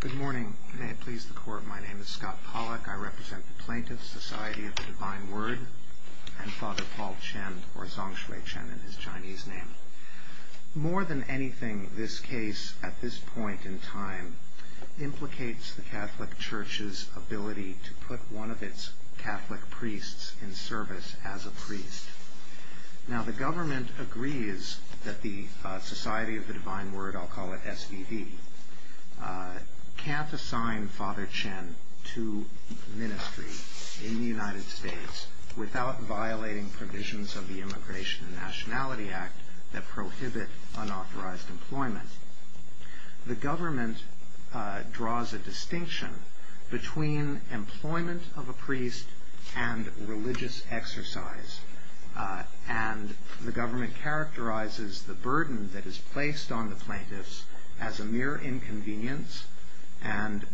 Good morning. May it please the Court, my name is Scott Pollack. I represent the Plaintiffs' Society of the Divine Word and Father Paul Chen, or Zongshui Chen in his Chinese name. More than anything, this case, at this point in time, implicates the Catholic Church's ability to put one of its Catholic priests in service as a priest. Now, the government agrees that the can't assign Father Chen to ministry in the United States without violating provisions of the Immigration and Nationality Act that prohibit unauthorized employment. The government draws a distinction between employment of a priest and religious exercise, and the government characterizes the burden that is placed on the plaintiffs as a mere inconvenience and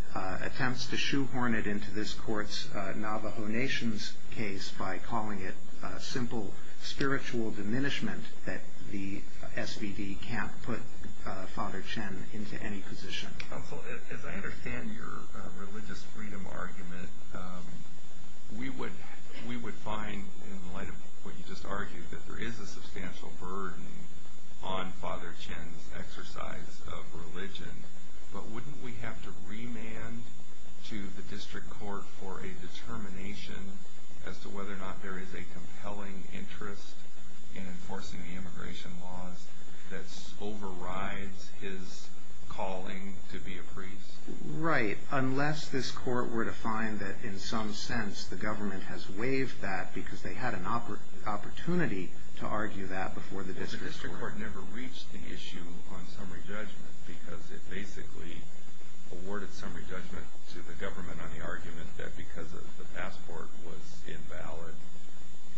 attempts to shoehorn it into this Court's Navajo Nation's case by calling it a simple spiritual diminishment that the SVD can't put Father Chen into any position. As I understand your religious freedom argument, we would find, in light of what you just argued, that there is a substantial burden on Father Chen's exercise of religion, but wouldn't we have to remand to the District Court for a determination as to whether or not there is a compelling interest in enforcing the immigration laws that overrides his calling to be a priest? Right. Unless this Court were to find that, in some sense, the government has waived that because they had an opportunity to argue that before the District Court. But the District Court never reached the issue on summary judgment because it basically awarded summary judgment to the government on the argument that because the passport was invalid,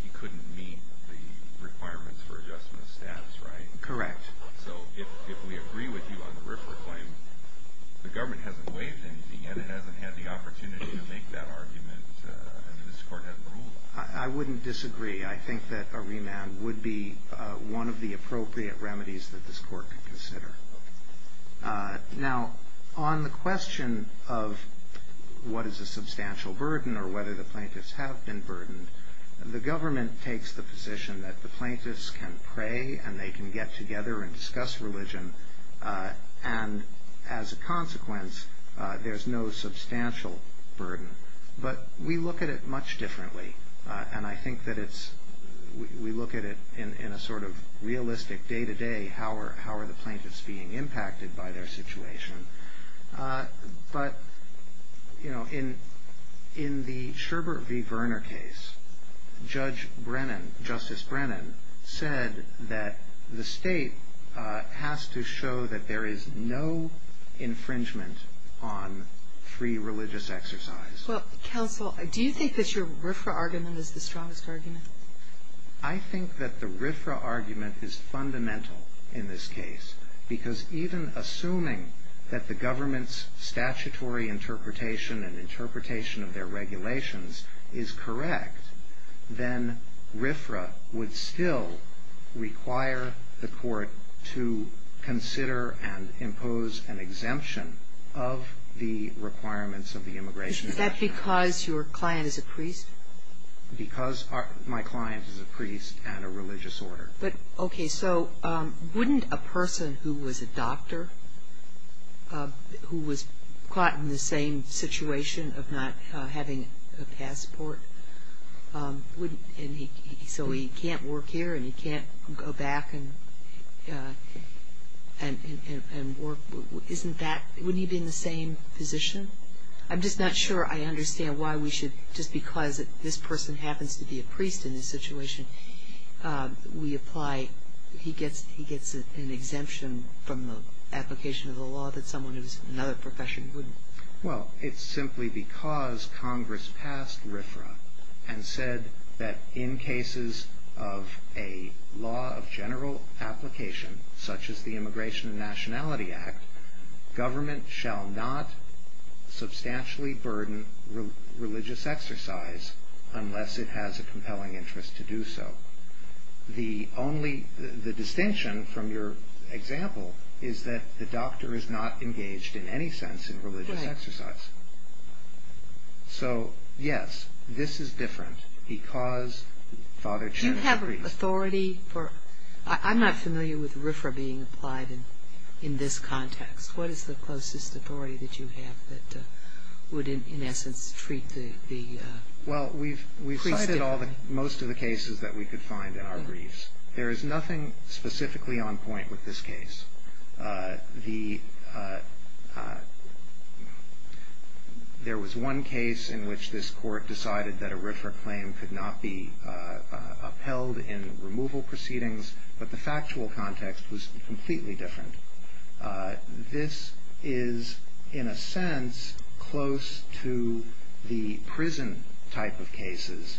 he couldn't meet the requirements for adjustment of status, right? Correct. So if we agree with you on the RIFRA claim, the government hasn't waived anything, and it hasn't had the opportunity to make that argument, and the District Court hasn't ruled it. I wouldn't disagree. I think that a remand would be one of the appropriate remedies that this Court could consider. Now, on the question of what is a substantial burden or whether the plaintiffs have been burdened, the government takes the position that the plaintiffs can pray and they can get together and discuss religion, and as a consequence, there's no substantial burden. But we look at it much differently, and I think that we look at it in a sort of realistic day-to-day, how are the plaintiffs being impacted by their situation. But in the Sherbert v. Verner case, Judge Brennan, Justice Brennan, said that the state has to show that there is no infringement on free religious exercise. Well, Counsel, do you think that your RIFRA argument is the strongest argument? I think that the RIFRA argument is fundamental in this case, because even assuming that the government's statutory interpretation and interpretation of their regulations is correct, then RIFRA would still require the Court to consider and impose an exemption of the requirements of the Immigration Act. Is that because your client is a priest? Because my client is a priest and a religious order. But, okay, so wouldn't a person who was a doctor, who was caught in the same situation of not having a passport, so he can't work here and he can't go back and work, isn't that, wouldn't he be in the same position? I'm just not sure I understand why we should, just because this person happens to be a priest in this situation, we apply, he gets an exemption from the application of the law that someone who's in another profession wouldn't. Well, it's simply because Congress passed RIFRA and said that in cases of a law of general application, such as the Immigration and Nationality Act, government shall not substantially burden religious exercise unless it has a compelling interest to do so. The only, the distinction from your example is that the doctor is not engaged in any sense in religious exercise. So, yes, this is different because Father Cheney is a priest. I'm not familiar with RIFRA being applied in this context. What is the closest authority that you have that would, in essence, treat the priest differently? Well, we've cited most of the cases that we could find in our briefs. There is nothing specifically on point with this case. There was one case in which this Court decided that a RIFRA claim could not be approved without approval proceedings, but the factual context was completely different. This is, in a sense, close to the prison type of cases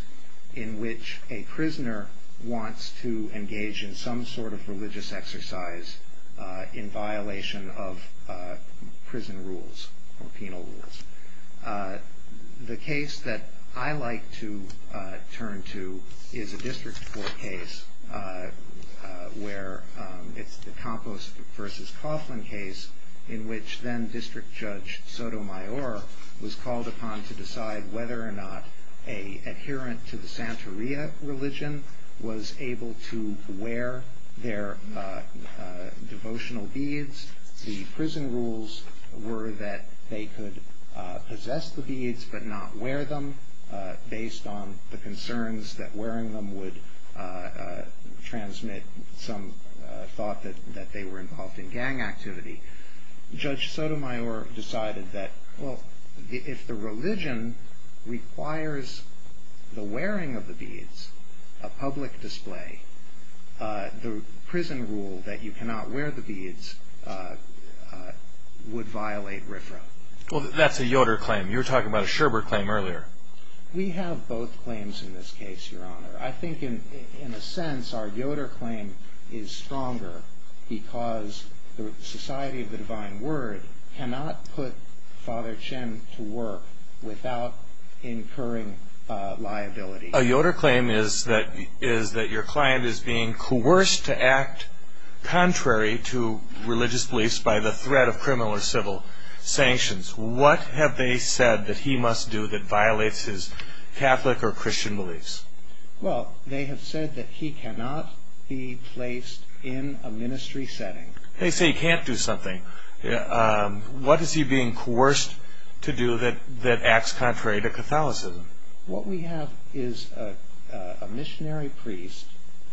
in which a prisoner wants to engage in some sort of religious exercise in violation of prison rules or penal rules. The case that I like to turn to is a District Court case where it's the Campos v. Coughlin case in which then-District Judge Sotomayor was called upon to decide whether or not an adherent to the Santeria religion was able to wear their devotional beads. The prison rules were that they could possess the beads but not wear them based on the concerns that wearing them would transmit some thought that they were involved in gang activity. Judge Sotomayor decided that, well, if the religion requires the wearing of the beads, a public display, the prison rule that you cannot wear the beads would violate RIFRA. Well, that's a Yoder claim. You were talking about a Sherbert claim earlier. We have both claims in this case, Your Honor. I think, in a sense, our Yoder claim is stronger because the Society of the Divine Word cannot put Father Chen to work without incurring liability. A Yoder claim is that your client is being coerced to act contrary to religious beliefs by the threat of criminal or civil sanctions. What have they said that he must do that violates his Catholic or Christian beliefs? Well, they have said that he cannot be placed in a ministry setting. They say he can't do something. What is he being coerced to do that acts contrary to Catholicism? What we have is a missionary priest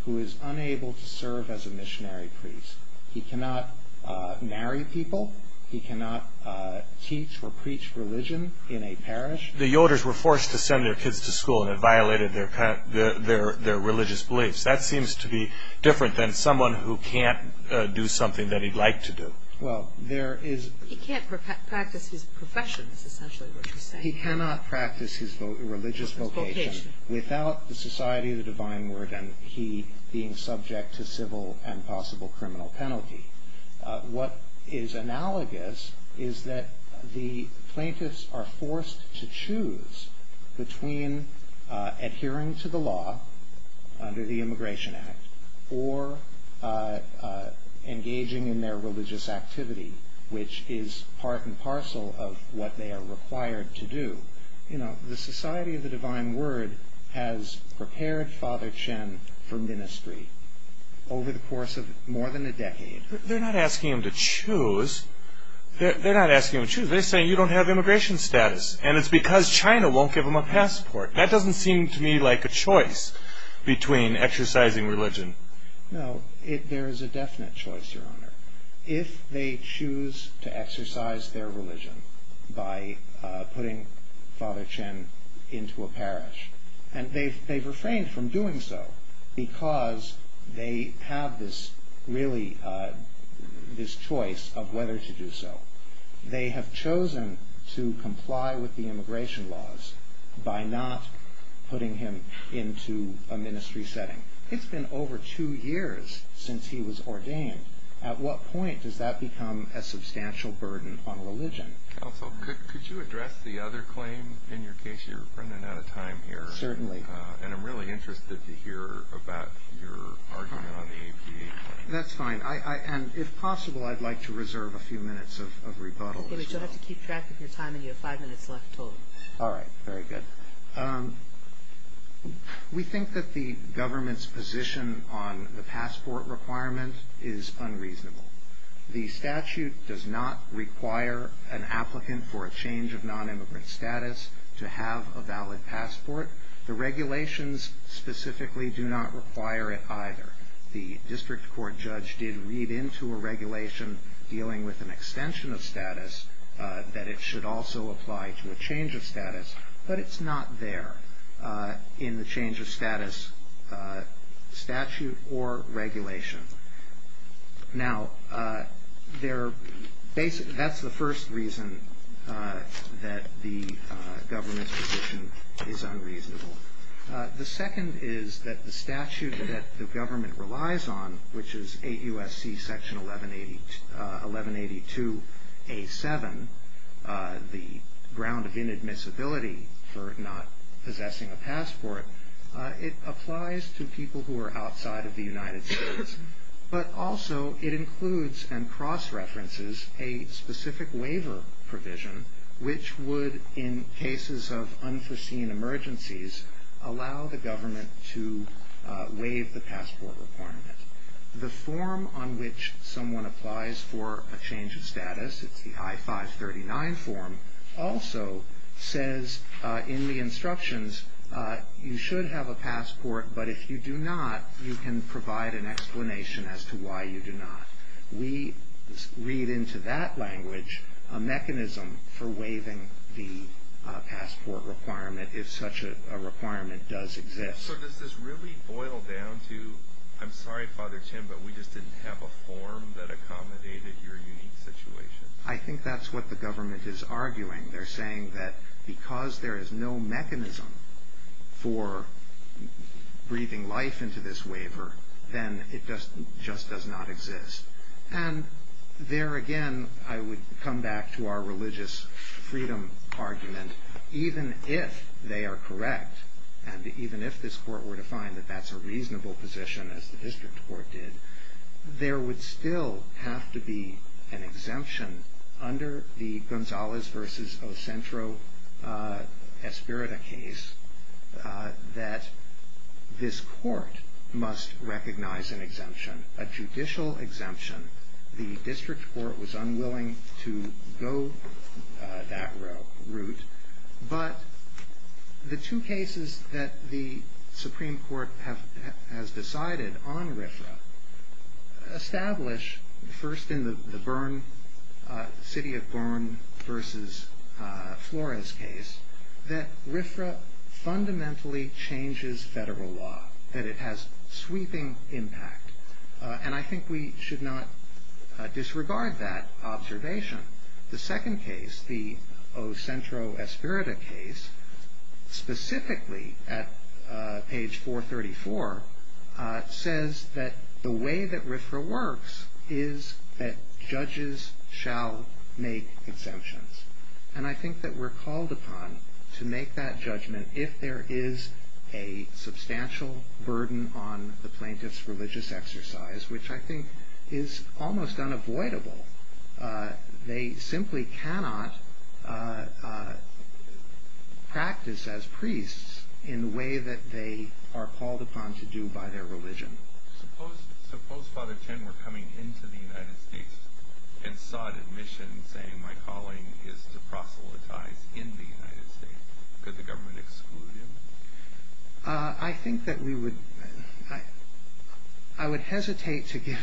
who is unable to serve as a missionary priest. He cannot marry people. He cannot teach or preach religion in a parish. The Yoders were forced to send their kids to school, and it violated their religious beliefs. That seems to be different than someone who can't do something that he'd like to do. Well, there is... He can't practice his profession, is essentially what you're saying. He cannot practice his religious vocation without the Society of the Divine Word and he being subject to civil and possible criminal penalty. What is analogous is that the plaintiffs are forced to choose between adhering to the law under the Immigration Act or engaging in their religious activity, which is part and parcel of what they are required to do. The Society of the Divine Word has prepared Father Chen for ministry over the course of more than a decade. They're not asking him to choose. They're not asking him to choose. They're saying you don't have immigration status, and it's because China won't give him a passport. That doesn't seem to me like a choice between exercising religion. No, there is a definite choice, Your Honor. If they choose to exercise their religion by putting Father Chen into a parish, and they've refrained from doing so because they have this choice of whether to do so. They have chosen to comply with the immigration laws by not putting him into a ministry setting. It's been over two years since he was ordained. At what point does that become a substantial burden on religion? Counsel, could you address the other claim in your case? You're running out of time here. Certainly. And I'm really interested to hear about your argument on the APA claim. That's fine. And if possible, I'd like to reserve a few minutes of rebuttal as well. You'll have to keep track of your time, and you have five minutes left total. All right. Very good. We think that the government's position on the passport requirement is unreasonable. The statute does not require an applicant for a change of non-immigrant status to have a valid passport. The regulations specifically do not require it either. The district court judge did read into a regulation dealing with an extension of status that it should also apply to a change of status. But it's not there in the change of status statute or regulation. Now, that's the first reason that the government's position is unreasonable. The second is that the statute that the government relies on, which is 8 U.S.C. Section 1182A7, the ground of inadmissibility for not possessing a passport, it applies to people who are outside of the United States. But also, it includes and cross-references a specific waiver provision which would, in cases of unforeseen emergencies, allow the government to waive the passport requirement. The form on which someone applies for a change of status, it's the I-539 form, also says in the instructions, you should have a passport. But if you do not, you can provide an explanation as to why you do not. We read into that language a mechanism for waiving the passport requirement if such a requirement does exist. So does this really boil down to, I'm sorry, Father Tim, but we just didn't have a form that accommodated your unique situation? I think that's what the government is arguing. They're saying that because there is no mechanism for breathing life into this waiver, then it just does not exist. And there again, I would come back to our religious freedom argument. Even if they are correct, and even if this court were to find that that's a reasonable position, as the district court did, there would still have to be an exemption under the Gonzalez versus Ocentro-Espirita case that this court must recognize an exemption, a judicial exemption. The district court was unwilling to go that route. But the two cases that the Supreme Court has decided on RFRA establish, first in the city of Gorin versus Flores case, that RFRA fundamentally changes federal law, that it has sweeping impact. And I think we should not disregard that observation. The second case, the Ocentro-Espirita case, specifically at page 434, says that the way that RFRA works is that judges shall make exemptions. And I think that we're called upon to make that judgment if there is a substantial burden on the plaintiff's religious exercise, which I think is almost unavoidable. They simply cannot practice as priests in the way that they are called upon to do by their religion. Suppose Father Chen were coming into the United States and sought admission, saying my calling is to proselytize in the United States. Could the government exclude him? I think that we would. I would hesitate to give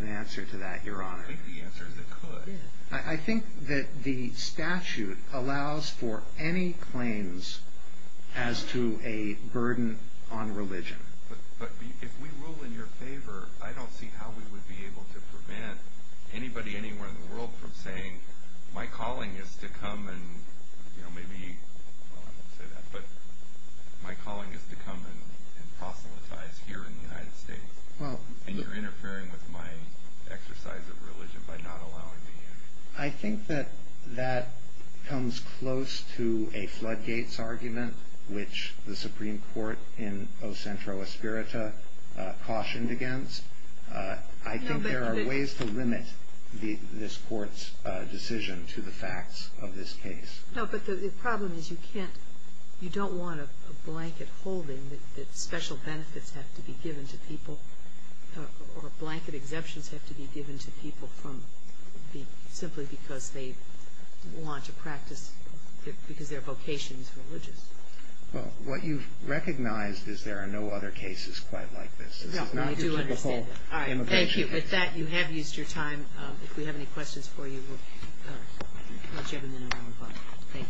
an answer to that, Your Honor. I think the answer is it could. I think that the statute allows for any claims as to a burden on religion. But if we rule in your favor, I don't see how we would be able to prevent anybody anywhere in the world from saying my calling is to come and, you know, maybe, well, I wouldn't say that. But my calling is to come and proselytize here in the United States, and you're interfering with my exercise of religion by not allowing me in. I think that that comes close to a floodgates argument, which the Supreme Court in O Centro Aspirita cautioned against. I think there are ways to limit this court's decision to the facts of this case. No, but the problem is you can't, you don't want a blanket holding that special benefits have to be given to people, or blanket exemptions have to be given to people from simply because they want to practice, because their vocation is religious. Well, what you've recognized is there are no other cases quite like this. This is not your typical immigration case. Thank you. With that, you have used your time. If we have any questions for you, we'll let you have them in at number five. Thank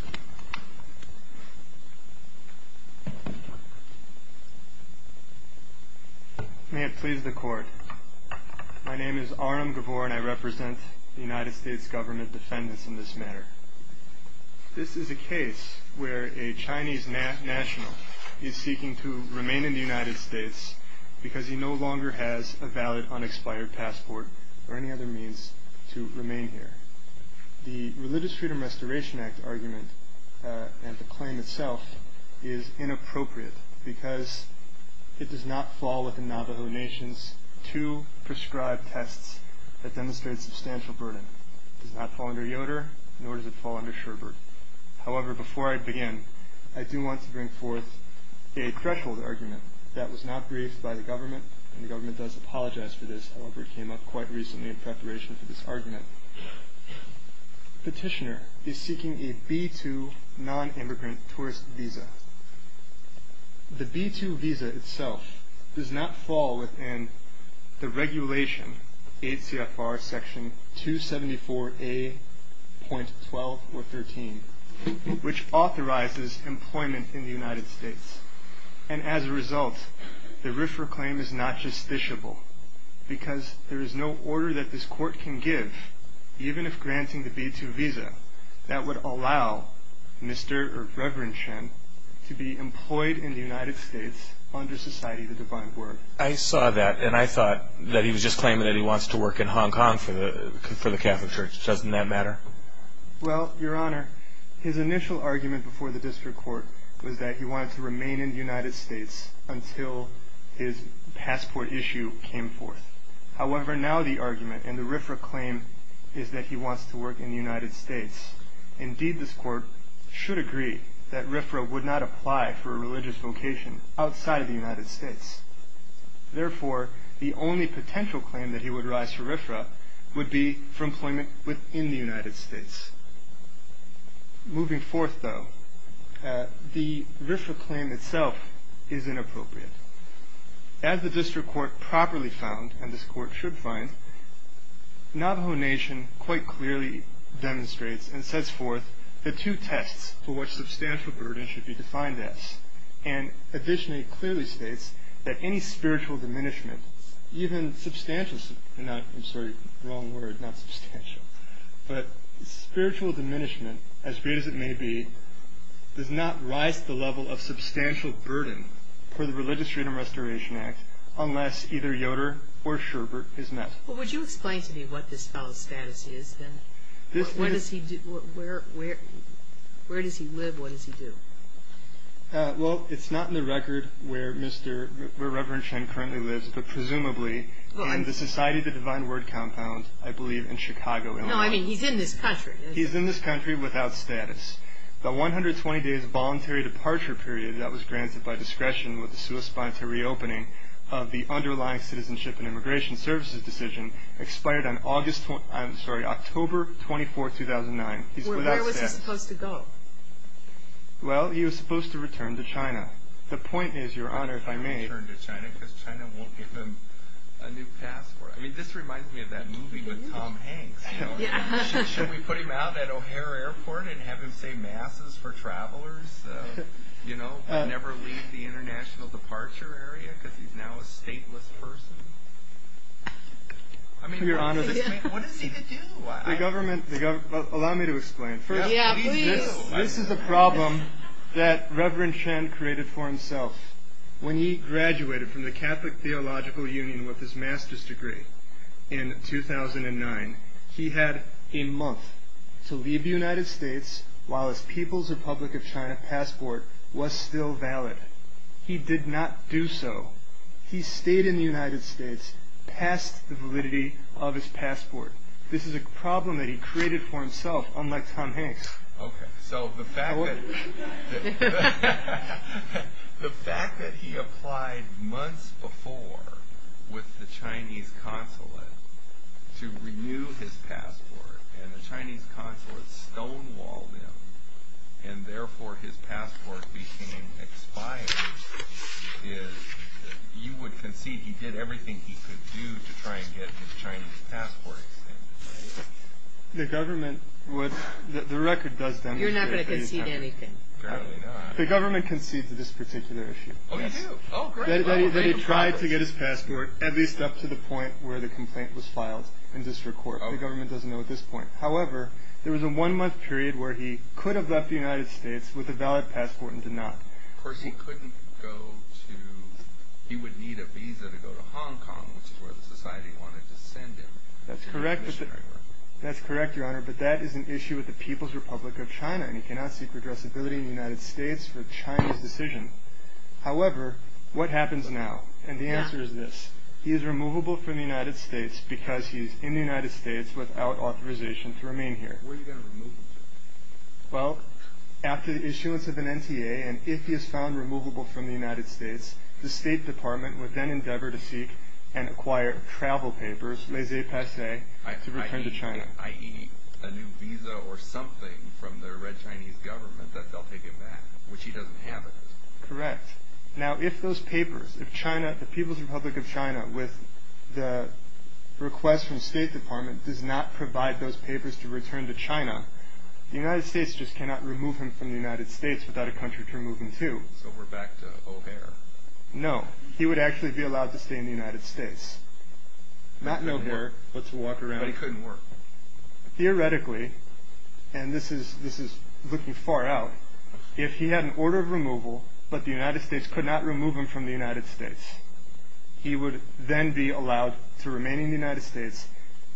you. May it please the court. My name is Aram Gabor, and I represent the United States government defendants in this matter. This is a case where a Chinese national is seeking to remain in the United States because he no longer has a valid unexpired passport or any other means to remain here. The Religious Freedom Restoration Act argument and the claim itself is inappropriate because it does not fall within Navajo Nations to prescribe tests that demonstrate substantial burden. It does not fall under Yoder, nor does it fall under Sherbert. However, before I begin, I do want to bring forth a threshold argument that was not briefed by the government, and the government does apologize for this. However, it came up quite recently in preparation for this argument. Petitioner is seeking a B-2 non-immigrant tourist visa. The B-2 visa itself does not fall within the regulation, ACFR Section 274A.12 or 13, which authorizes employment in the United States. And as a result, the RIFRA claim is not justiciable because there is no order that this court can give, even if granting the B-2 visa, that would allow Mr. or Reverend Chen to be employed in the United States under Society of the Divine Word. I saw that, and I thought that he was just claiming that he wants to work in Hong Kong for the Catholic Church. Doesn't that matter? Well, Your Honor, his initial argument before the district court was that he wanted to remain in the United States until his passport issue came forth. However, now the argument in the RIFRA claim is that he wants to work in the United States. Indeed, this court should agree that RIFRA would not apply for a religious vocation outside of the United States. Therefore, the only potential claim that he would rise for RIFRA would be for employment within the United States. Moving forth, though, the RIFRA claim itself is inappropriate. As the district court properly found, and this court should find, Navajo Nation quite clearly demonstrates and sets forth the two tests for what substantial burden should be defined as. And a visionary clearly states that any spiritual diminishment, even substantial, I'm sorry, wrong word, not substantial. But spiritual diminishment, as great as it may be, does not rise to the level of substantial burden for the Religious Freedom Restoration Act unless either Yoder or Schubert is met. Well, would you explain to me what this fellow's status is? And where does he live? What does he do? Well, it's not in the record where Reverend Chen currently lives, but presumably in the Society of the Divine Word compound, I believe, in Chicago, Illinois. No, I mean, he's in this country. He's in this country without status. The 120 days voluntary departure period that was granted by discretion with the sui sponsor reopening of the underlying Citizenship and Immigration Services decision expired on August, I'm sorry, October 24, 2009. Where was he supposed to go? Well, he was supposed to return to China. The point is, Your Honor, if I may. Return to China because China won't give him a new passport. I mean, this reminds me of that movie with Tom Hanks. Should we put him out at O'Hare Airport and have him say masses for travelers? You know, never leave the international departure area because he's now a stateless person. I mean, Your Honor, what does he do? The government, allow me to explain. First, this is a problem that Reverend Chen created for himself. When he graduated from the Catholic Theological Union with his master's degree in 2009, he had a month to leave the United States while his People's Republic of China passport was still valid. He did not do so. He stayed in the United States past the validity of his passport. This is a problem that he created for himself, unlike Tom Hanks. Okay. So the fact that he applied months before with the Chinese consulate to renew his passport and the Chinese consulate stonewalled him and therefore his passport became expired, is that you would concede he did everything he could do to try and get his Chinese passport extended, right? The government would, the record does demonstrate that he did. You're not going to concede anything. Apparently not. The government concedes to this particular issue. Oh, you do? Oh, great. That he tried to get his passport at least up to the point where the complaint was filed in district court. The government doesn't know at this point. However, there was a one month period where he could have left the United States with a valid passport and did not. Of course, he couldn't go to, he would need a visa to go to Hong Kong, which is where the society wanted to send him. That's correct. That's correct, Your Honor. But that is an issue with the People's Republic of China, and he cannot seek addressability in the United States for China's decision. However, what happens now? And the answer is this. He is removable from the United States because he's in the United States without authorization to remain here. Where are you going to remove him to? Well, after the issuance of an NTA, and if he is found removable from the United States, the State Department would then endeavor to seek and acquire travel papers, laissez passer, to return to China. I.e. a new visa or something from the Red Chinese government that they'll take him back, which he doesn't have it. Correct. Now, if those papers, if China, the People's Republic of China, with the request from the State Department does not provide those papers to return to China, the United States just cannot remove him from the United States without a country to remove him to. So we're back to O'Hare. No. He would actually be allowed to stay in the United States. Not to O'Hare, but to walk around. But he couldn't work. Theoretically, and this is looking far out, if he had an order of removal, but the United States could not remove him from the United States, he would then be allowed to remain in the United States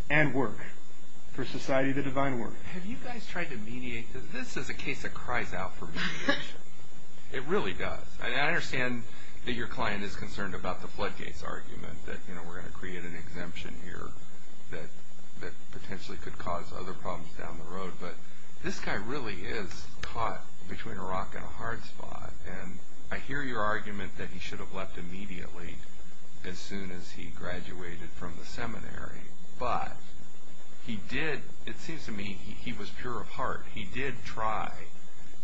and work for Society of the Divine Work. Have you guys tried to mediate? This is a case that cries out for mediation. It really does. And I understand that your client is concerned about the floodgates argument that, you know, we're going to create an exemption here that potentially could cause other problems down the road. But this guy really is caught between a rock and a hard spot. And I hear your argument that he should have left immediately as soon as he graduated from the seminary. But he did, it seems to me, he was pure of heart. He did try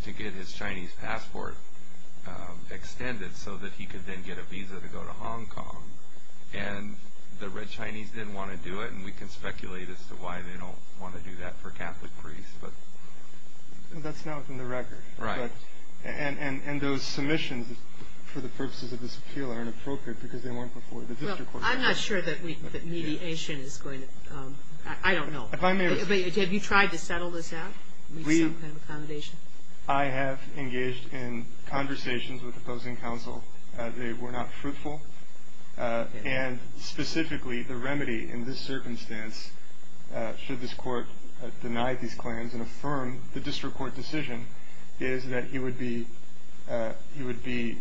to get his Chinese passport extended so that he could then get a visa to go to Hong Kong. And the red Chinese didn't want to do it. And we can speculate as to why they don't want to do that for Catholic priests. But that's not within the record. Right. And those submissions for the purposes of this appeal are inappropriate because they weren't before the district court. I'm not sure that mediation is going to, I don't know. Have you tried to settle this out? With some kind of accommodation? I have engaged in conversations with opposing counsel. They were not fruitful. And specifically, the remedy in this circumstance, should this court deny these claims and affirm the district court decision, is that he would be, he would be,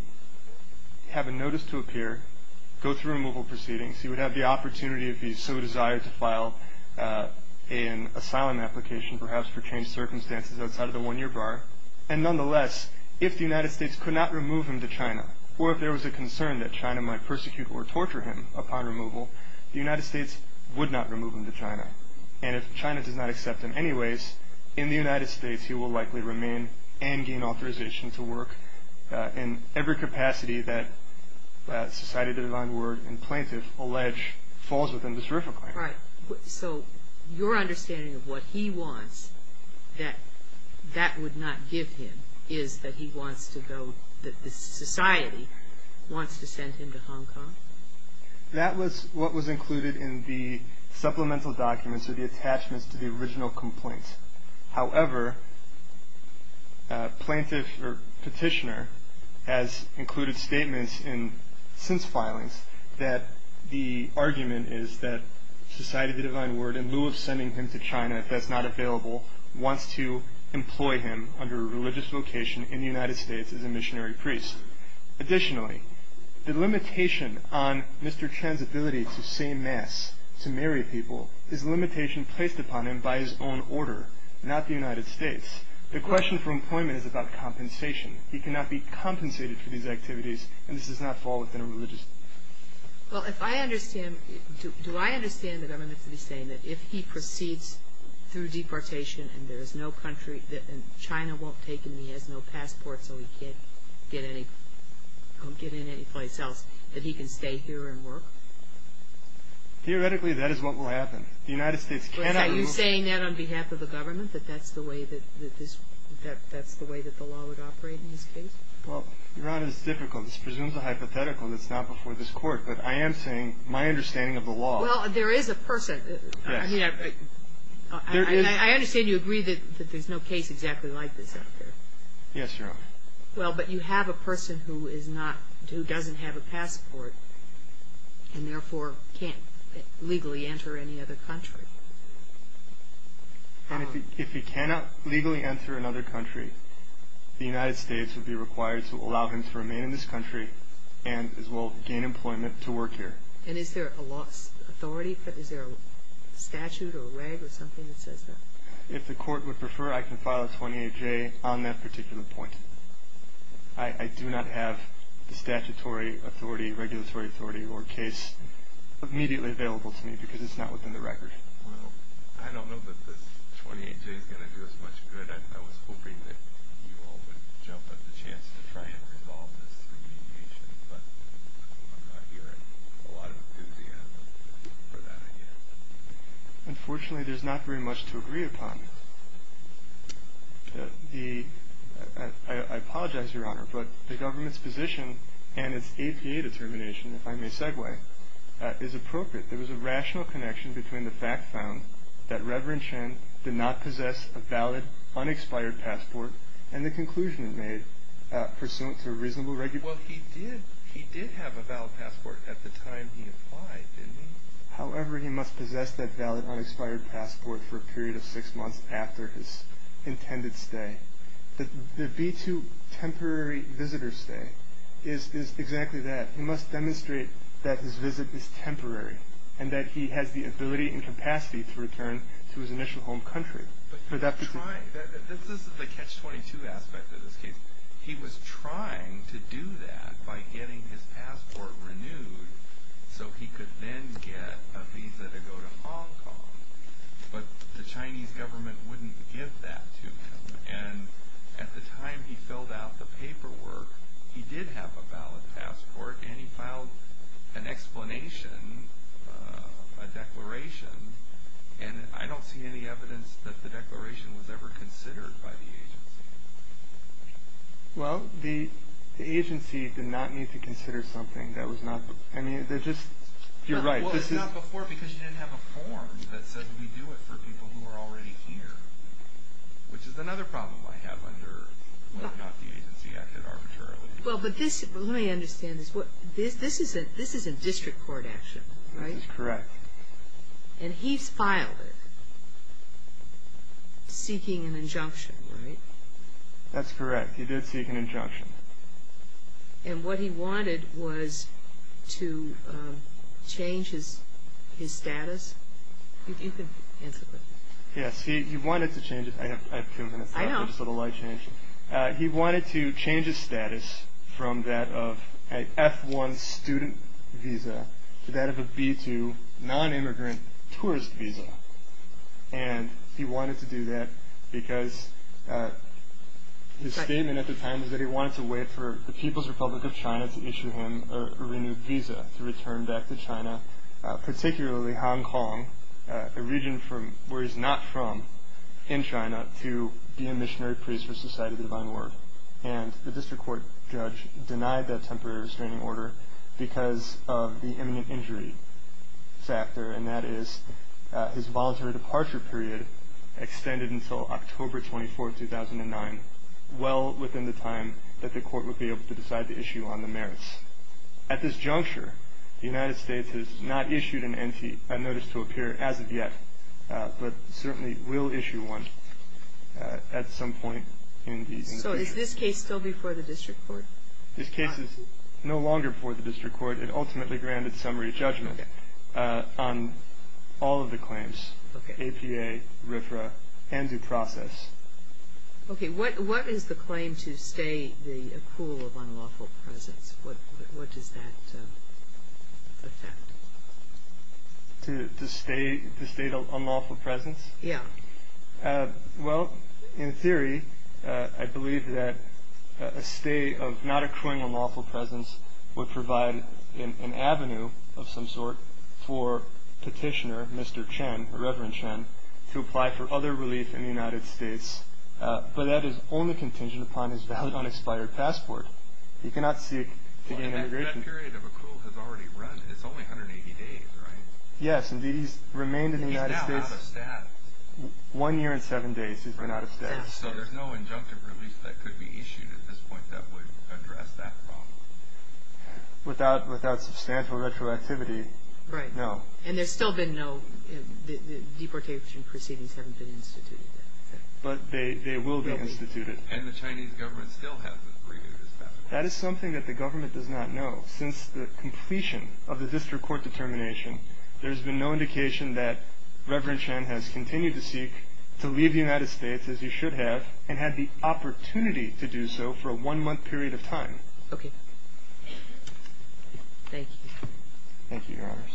have a notice to appear, go through removal proceedings. He would have the opportunity if he so desired to file an asylum application, perhaps for varying circumstances outside of the one-year bar. And nonetheless, if the United States could not remove him to China, or if there was a concern that China might persecute or torture him upon removal, the United States would not remove him to China. And if China does not accept him anyways, in the United States, he will likely remain and gain authorization to work in every capacity that Society of the Divine Word and plaintiff allege falls within this RFRA claim. All right. So your understanding of what he wants that that would not give him is that he wants to go, that the society wants to send him to Hong Kong? That was what was included in the supplemental documents or the attachments to the original complaints. However, plaintiff or petitioner has included statements in since filings that the argument is that Society of the Divine Word, in lieu of sending him to China, if that's not available, wants to employ him under a religious vocation in the United States as a missionary priest. Additionally, the limitation on Mr. Chan's ability to say mass, to marry people, is a limitation placed upon him by his own order, not the United States. The question for employment is about compensation. He cannot be compensated for these activities. And this does not fall within a religious. Well, if I understand, do I understand the government to be saying that if he proceeds through deportation and there is no country that China won't take him, he has no passport so he can't get any, get in any place else, that he can stay here and work? Theoretically, that is what will happen. The United States cannot remove. Are you saying that on behalf of the government, that that's the way that this, that that's the way that the law would operate in this case? Well, Your Honor, it's difficult. This presumes a hypothetical. That's not before this court. But I am saying my understanding of the law. Well, there is a person, I mean, I understand you agree that there's no case exactly like this out there. Yes, Your Honor. Well, but you have a person who is not, who doesn't have a passport and therefore can't legally enter any other country. And if he cannot legally enter another country, the United States would be required to allow him to remain in this country and as well gain employment to work here. And is there a law, authority, is there a statute or a reg or something that says that? If the court would prefer, I can file a 28J on that particular point. I do not have the statutory authority, regulatory authority or case immediately available to me because it's not within the record. Well, I don't know that this 28J is going to do us much good. I was hoping that you all would jump at the chance to try and resolve this remediation, but I'm not hearing a lot of enthusiasm for that idea. Unfortunately, there's not very much to agree upon. I apologize, Your Honor, but the government's position and its APA determination, if I may segue, is appropriate. There was a rational connection between the fact found that Reverend Chen did not possess a valid, unexpired passport and the conclusion it made pursuant to a reasonable regulation. Well, he did have a valid passport at the time he applied, didn't he? However, he must possess that valid, unexpired passport for a period of six months after his intended stay. The B-2 temporary visitor stay is exactly that. He must demonstrate that his visit is temporary and that he has the ability and capacity to return to his initial home country. But he was trying, this is the Catch-22 aspect of this case, he was trying to do that by getting his passport renewed so he could then get a visa to go to Hong Kong, but the Chinese government wouldn't give that to him. And at the time he filled out the paperwork, he did have a valid passport and he filed an explanation, a declaration, and I don't see any evidence that the declaration was ever considered by the agency. Well, the agency did not need to consider something that was not, I mean, they're just, you're right. Well, it's not before because you didn't have a form that said we do it for people who are already here, which is another problem I have under whether or not the agency acted arbitrarily. Well, but this, let me understand this. This is a district court action, right? This is correct. And he's filed it seeking an injunction, right? That's correct. He did seek an injunction. And what he wanted was to change his status? You can answer that. Yes, he wanted to change it. I have two minutes left. I know. Just a little light change. He wanted to change his status from that of an F1 student visa to that of a B2 non-immigrant tourist visa. And he wanted to do that because his statement at the time was that he wanted to wait for the People's Republic of China to issue him a renewed visa to return back to China, particularly Hong Kong, a region where he's not from in China, to be a missionary priest for Society of the Divine Word. And the district court judge denied that temporary restraining order because of the imminent injury factor. And that is his voluntary departure period extended until October 24, 2009, well within the time that the court would be able to decide the issue on the merits. At this juncture, the United States has not issued a notice to appear as of yet, but certainly will issue one at some point. So is this case still before the district court? This case is no longer before the district court. It ultimately granted summary judgment on all of the claims, APA, RFRA, ANZU process. OK, what is the claim to stay the accrual of unlawful presence? What does that affect? To stay the state of unlawful presence? Yeah. Well, in theory, I believe that a state of not accruing unlawful presence would provide an avenue of some sort for Petitioner Mr. Chen, Reverend Chen, to apply for other relief in the United States. But that is only contingent upon his valid unexpired passport. He cannot seek to gain immigration. That period of accrual has already run. It's only 180 days, right? Yes, indeed. He's remained in the United States. He's now out of status. One year and seven days he's been out of status. So there's no injunctive relief that could be issued at this point that would address that problem. Without substantial retroactivity, no. And there's still been no deportation proceedings haven't been instituted yet. But they will be instituted. And the Chinese government still hasn't renewed his passport. That is something that the government does not know. Since the completion of the district court determination, there's been no indication that Reverend Chen has continued to seek to leave the United States, as he should have, and had the opportunity to do so for a one-month period of time. Okay. Thank you. Thank you, Your Honors.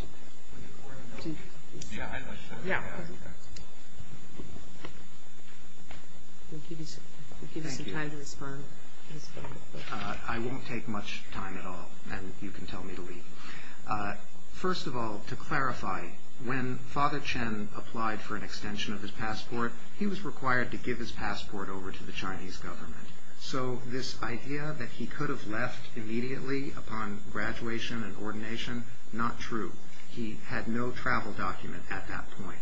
I won't take much time at all. And you can tell me to leave. First of all, to clarify, when Father Chen applied for an extension of his passport, he was required to give his passport over to the Chinese government. So this idea that he could have left immediately upon graduation and ordination, not true. He had no travel document at that point.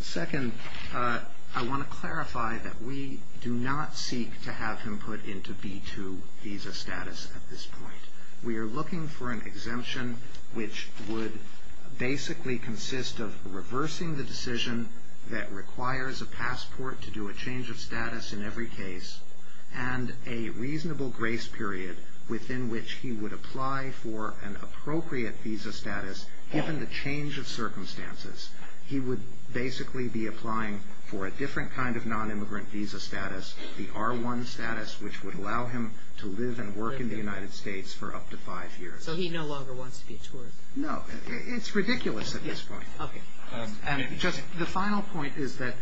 Second, I want to clarify that we do not seek to have him put into B-2 visa status at this point. We are looking for an exemption which would basically consist of reversing the decision that requires a passport to do a change of status in every case and a reasonable grace period within which he would apply for an appropriate visa status, given the change of circumstances. He would basically be applying for a different kind of non-immigrant visa status, the R-1 status, which would allow him to live and work in the United States for up to five years. So he no longer wants to be a tourist? No. It's ridiculous at this point. Okay. The final point is that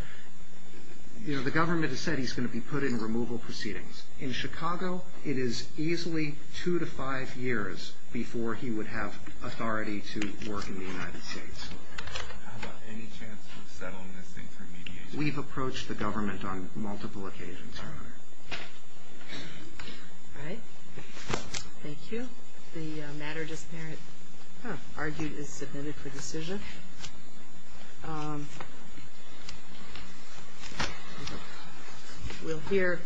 the government has said he's going to be put in removal proceedings. In Chicago, it is easily two to five years before he would have authority to work in the United States. How about any chance of settling this thing through mediation? We've approached the government on multiple occasions, Your Honor. All right. Thank you. The matter just there, argued, is submitted for decision. We'll hear...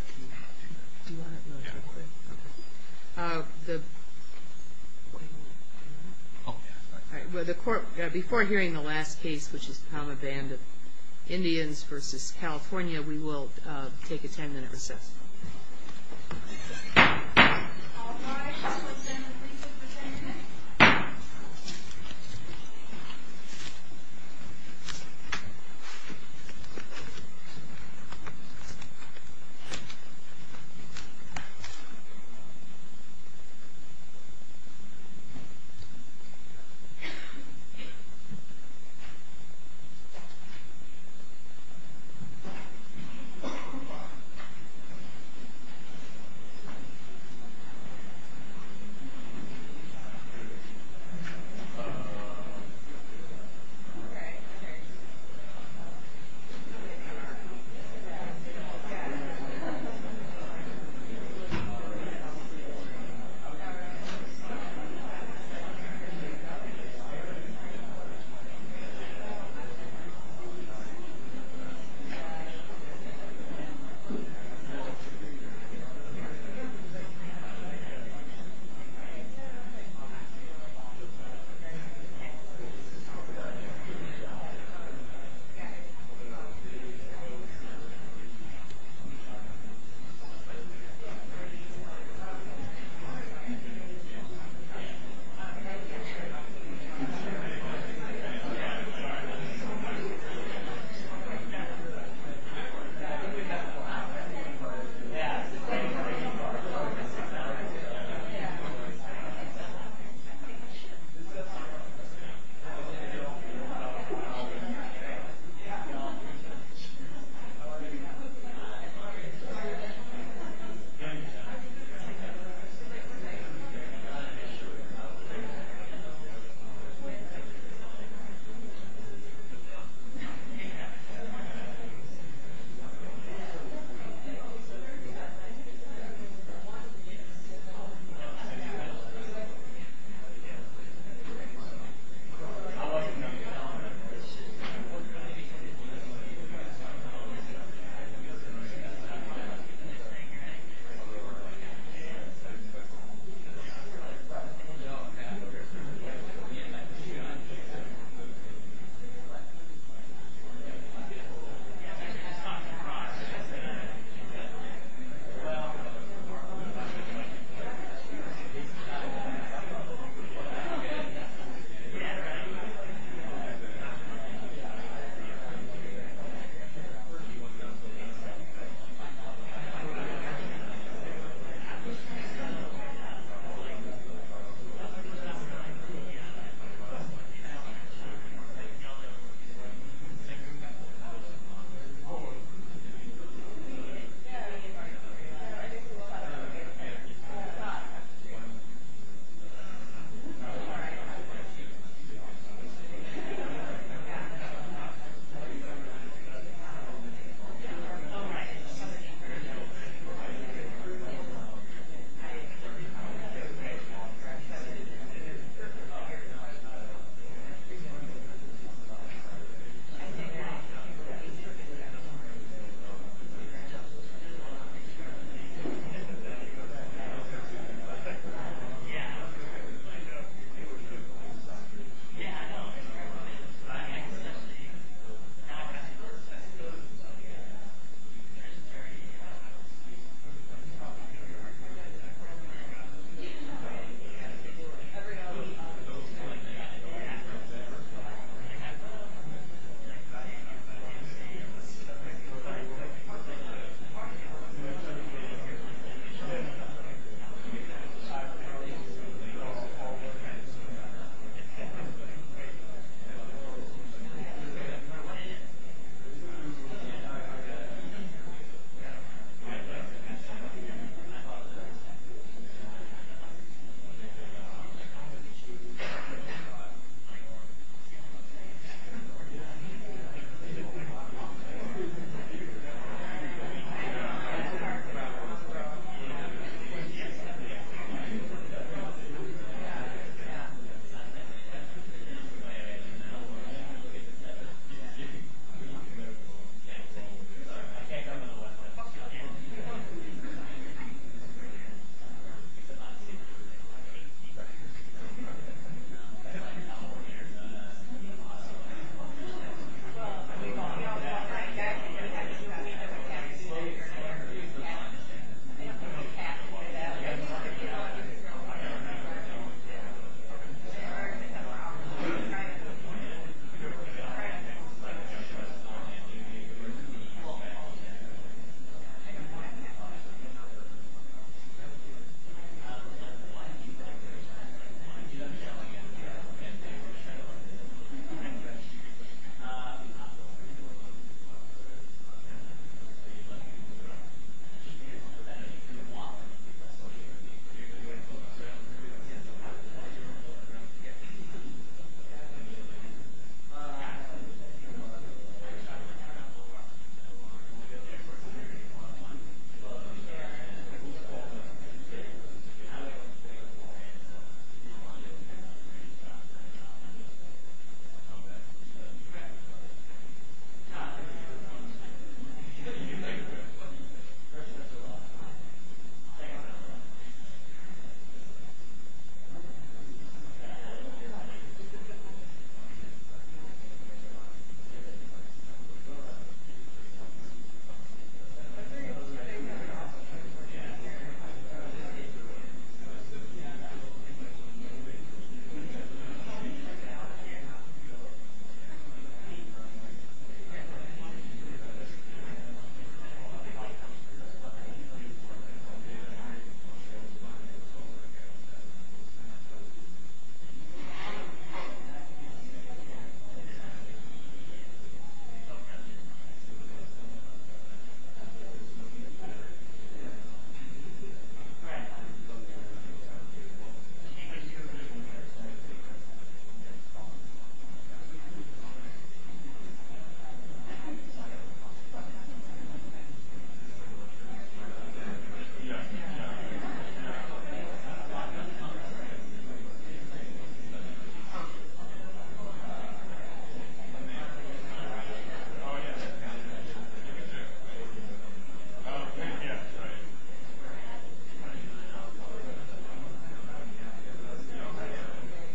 Before hearing the last case, which is the common band of Indians versus California, we will take a ten-minute recess.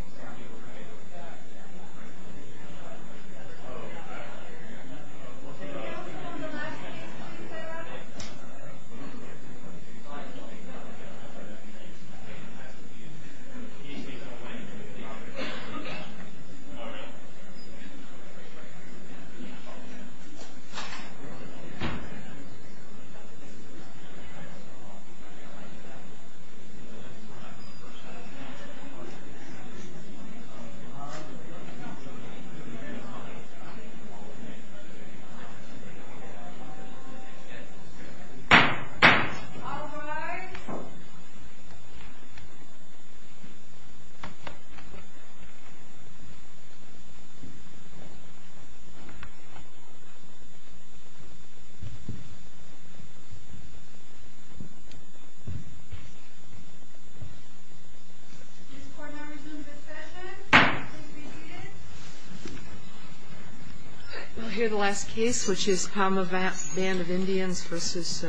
We'll take a ten-minute recess. We'll take a ten-minute recess. We'll take a ten-minute recess. We'll take a ten-minute recess. We'll hear the last case, which is PAMA Band of Indians versus California State University.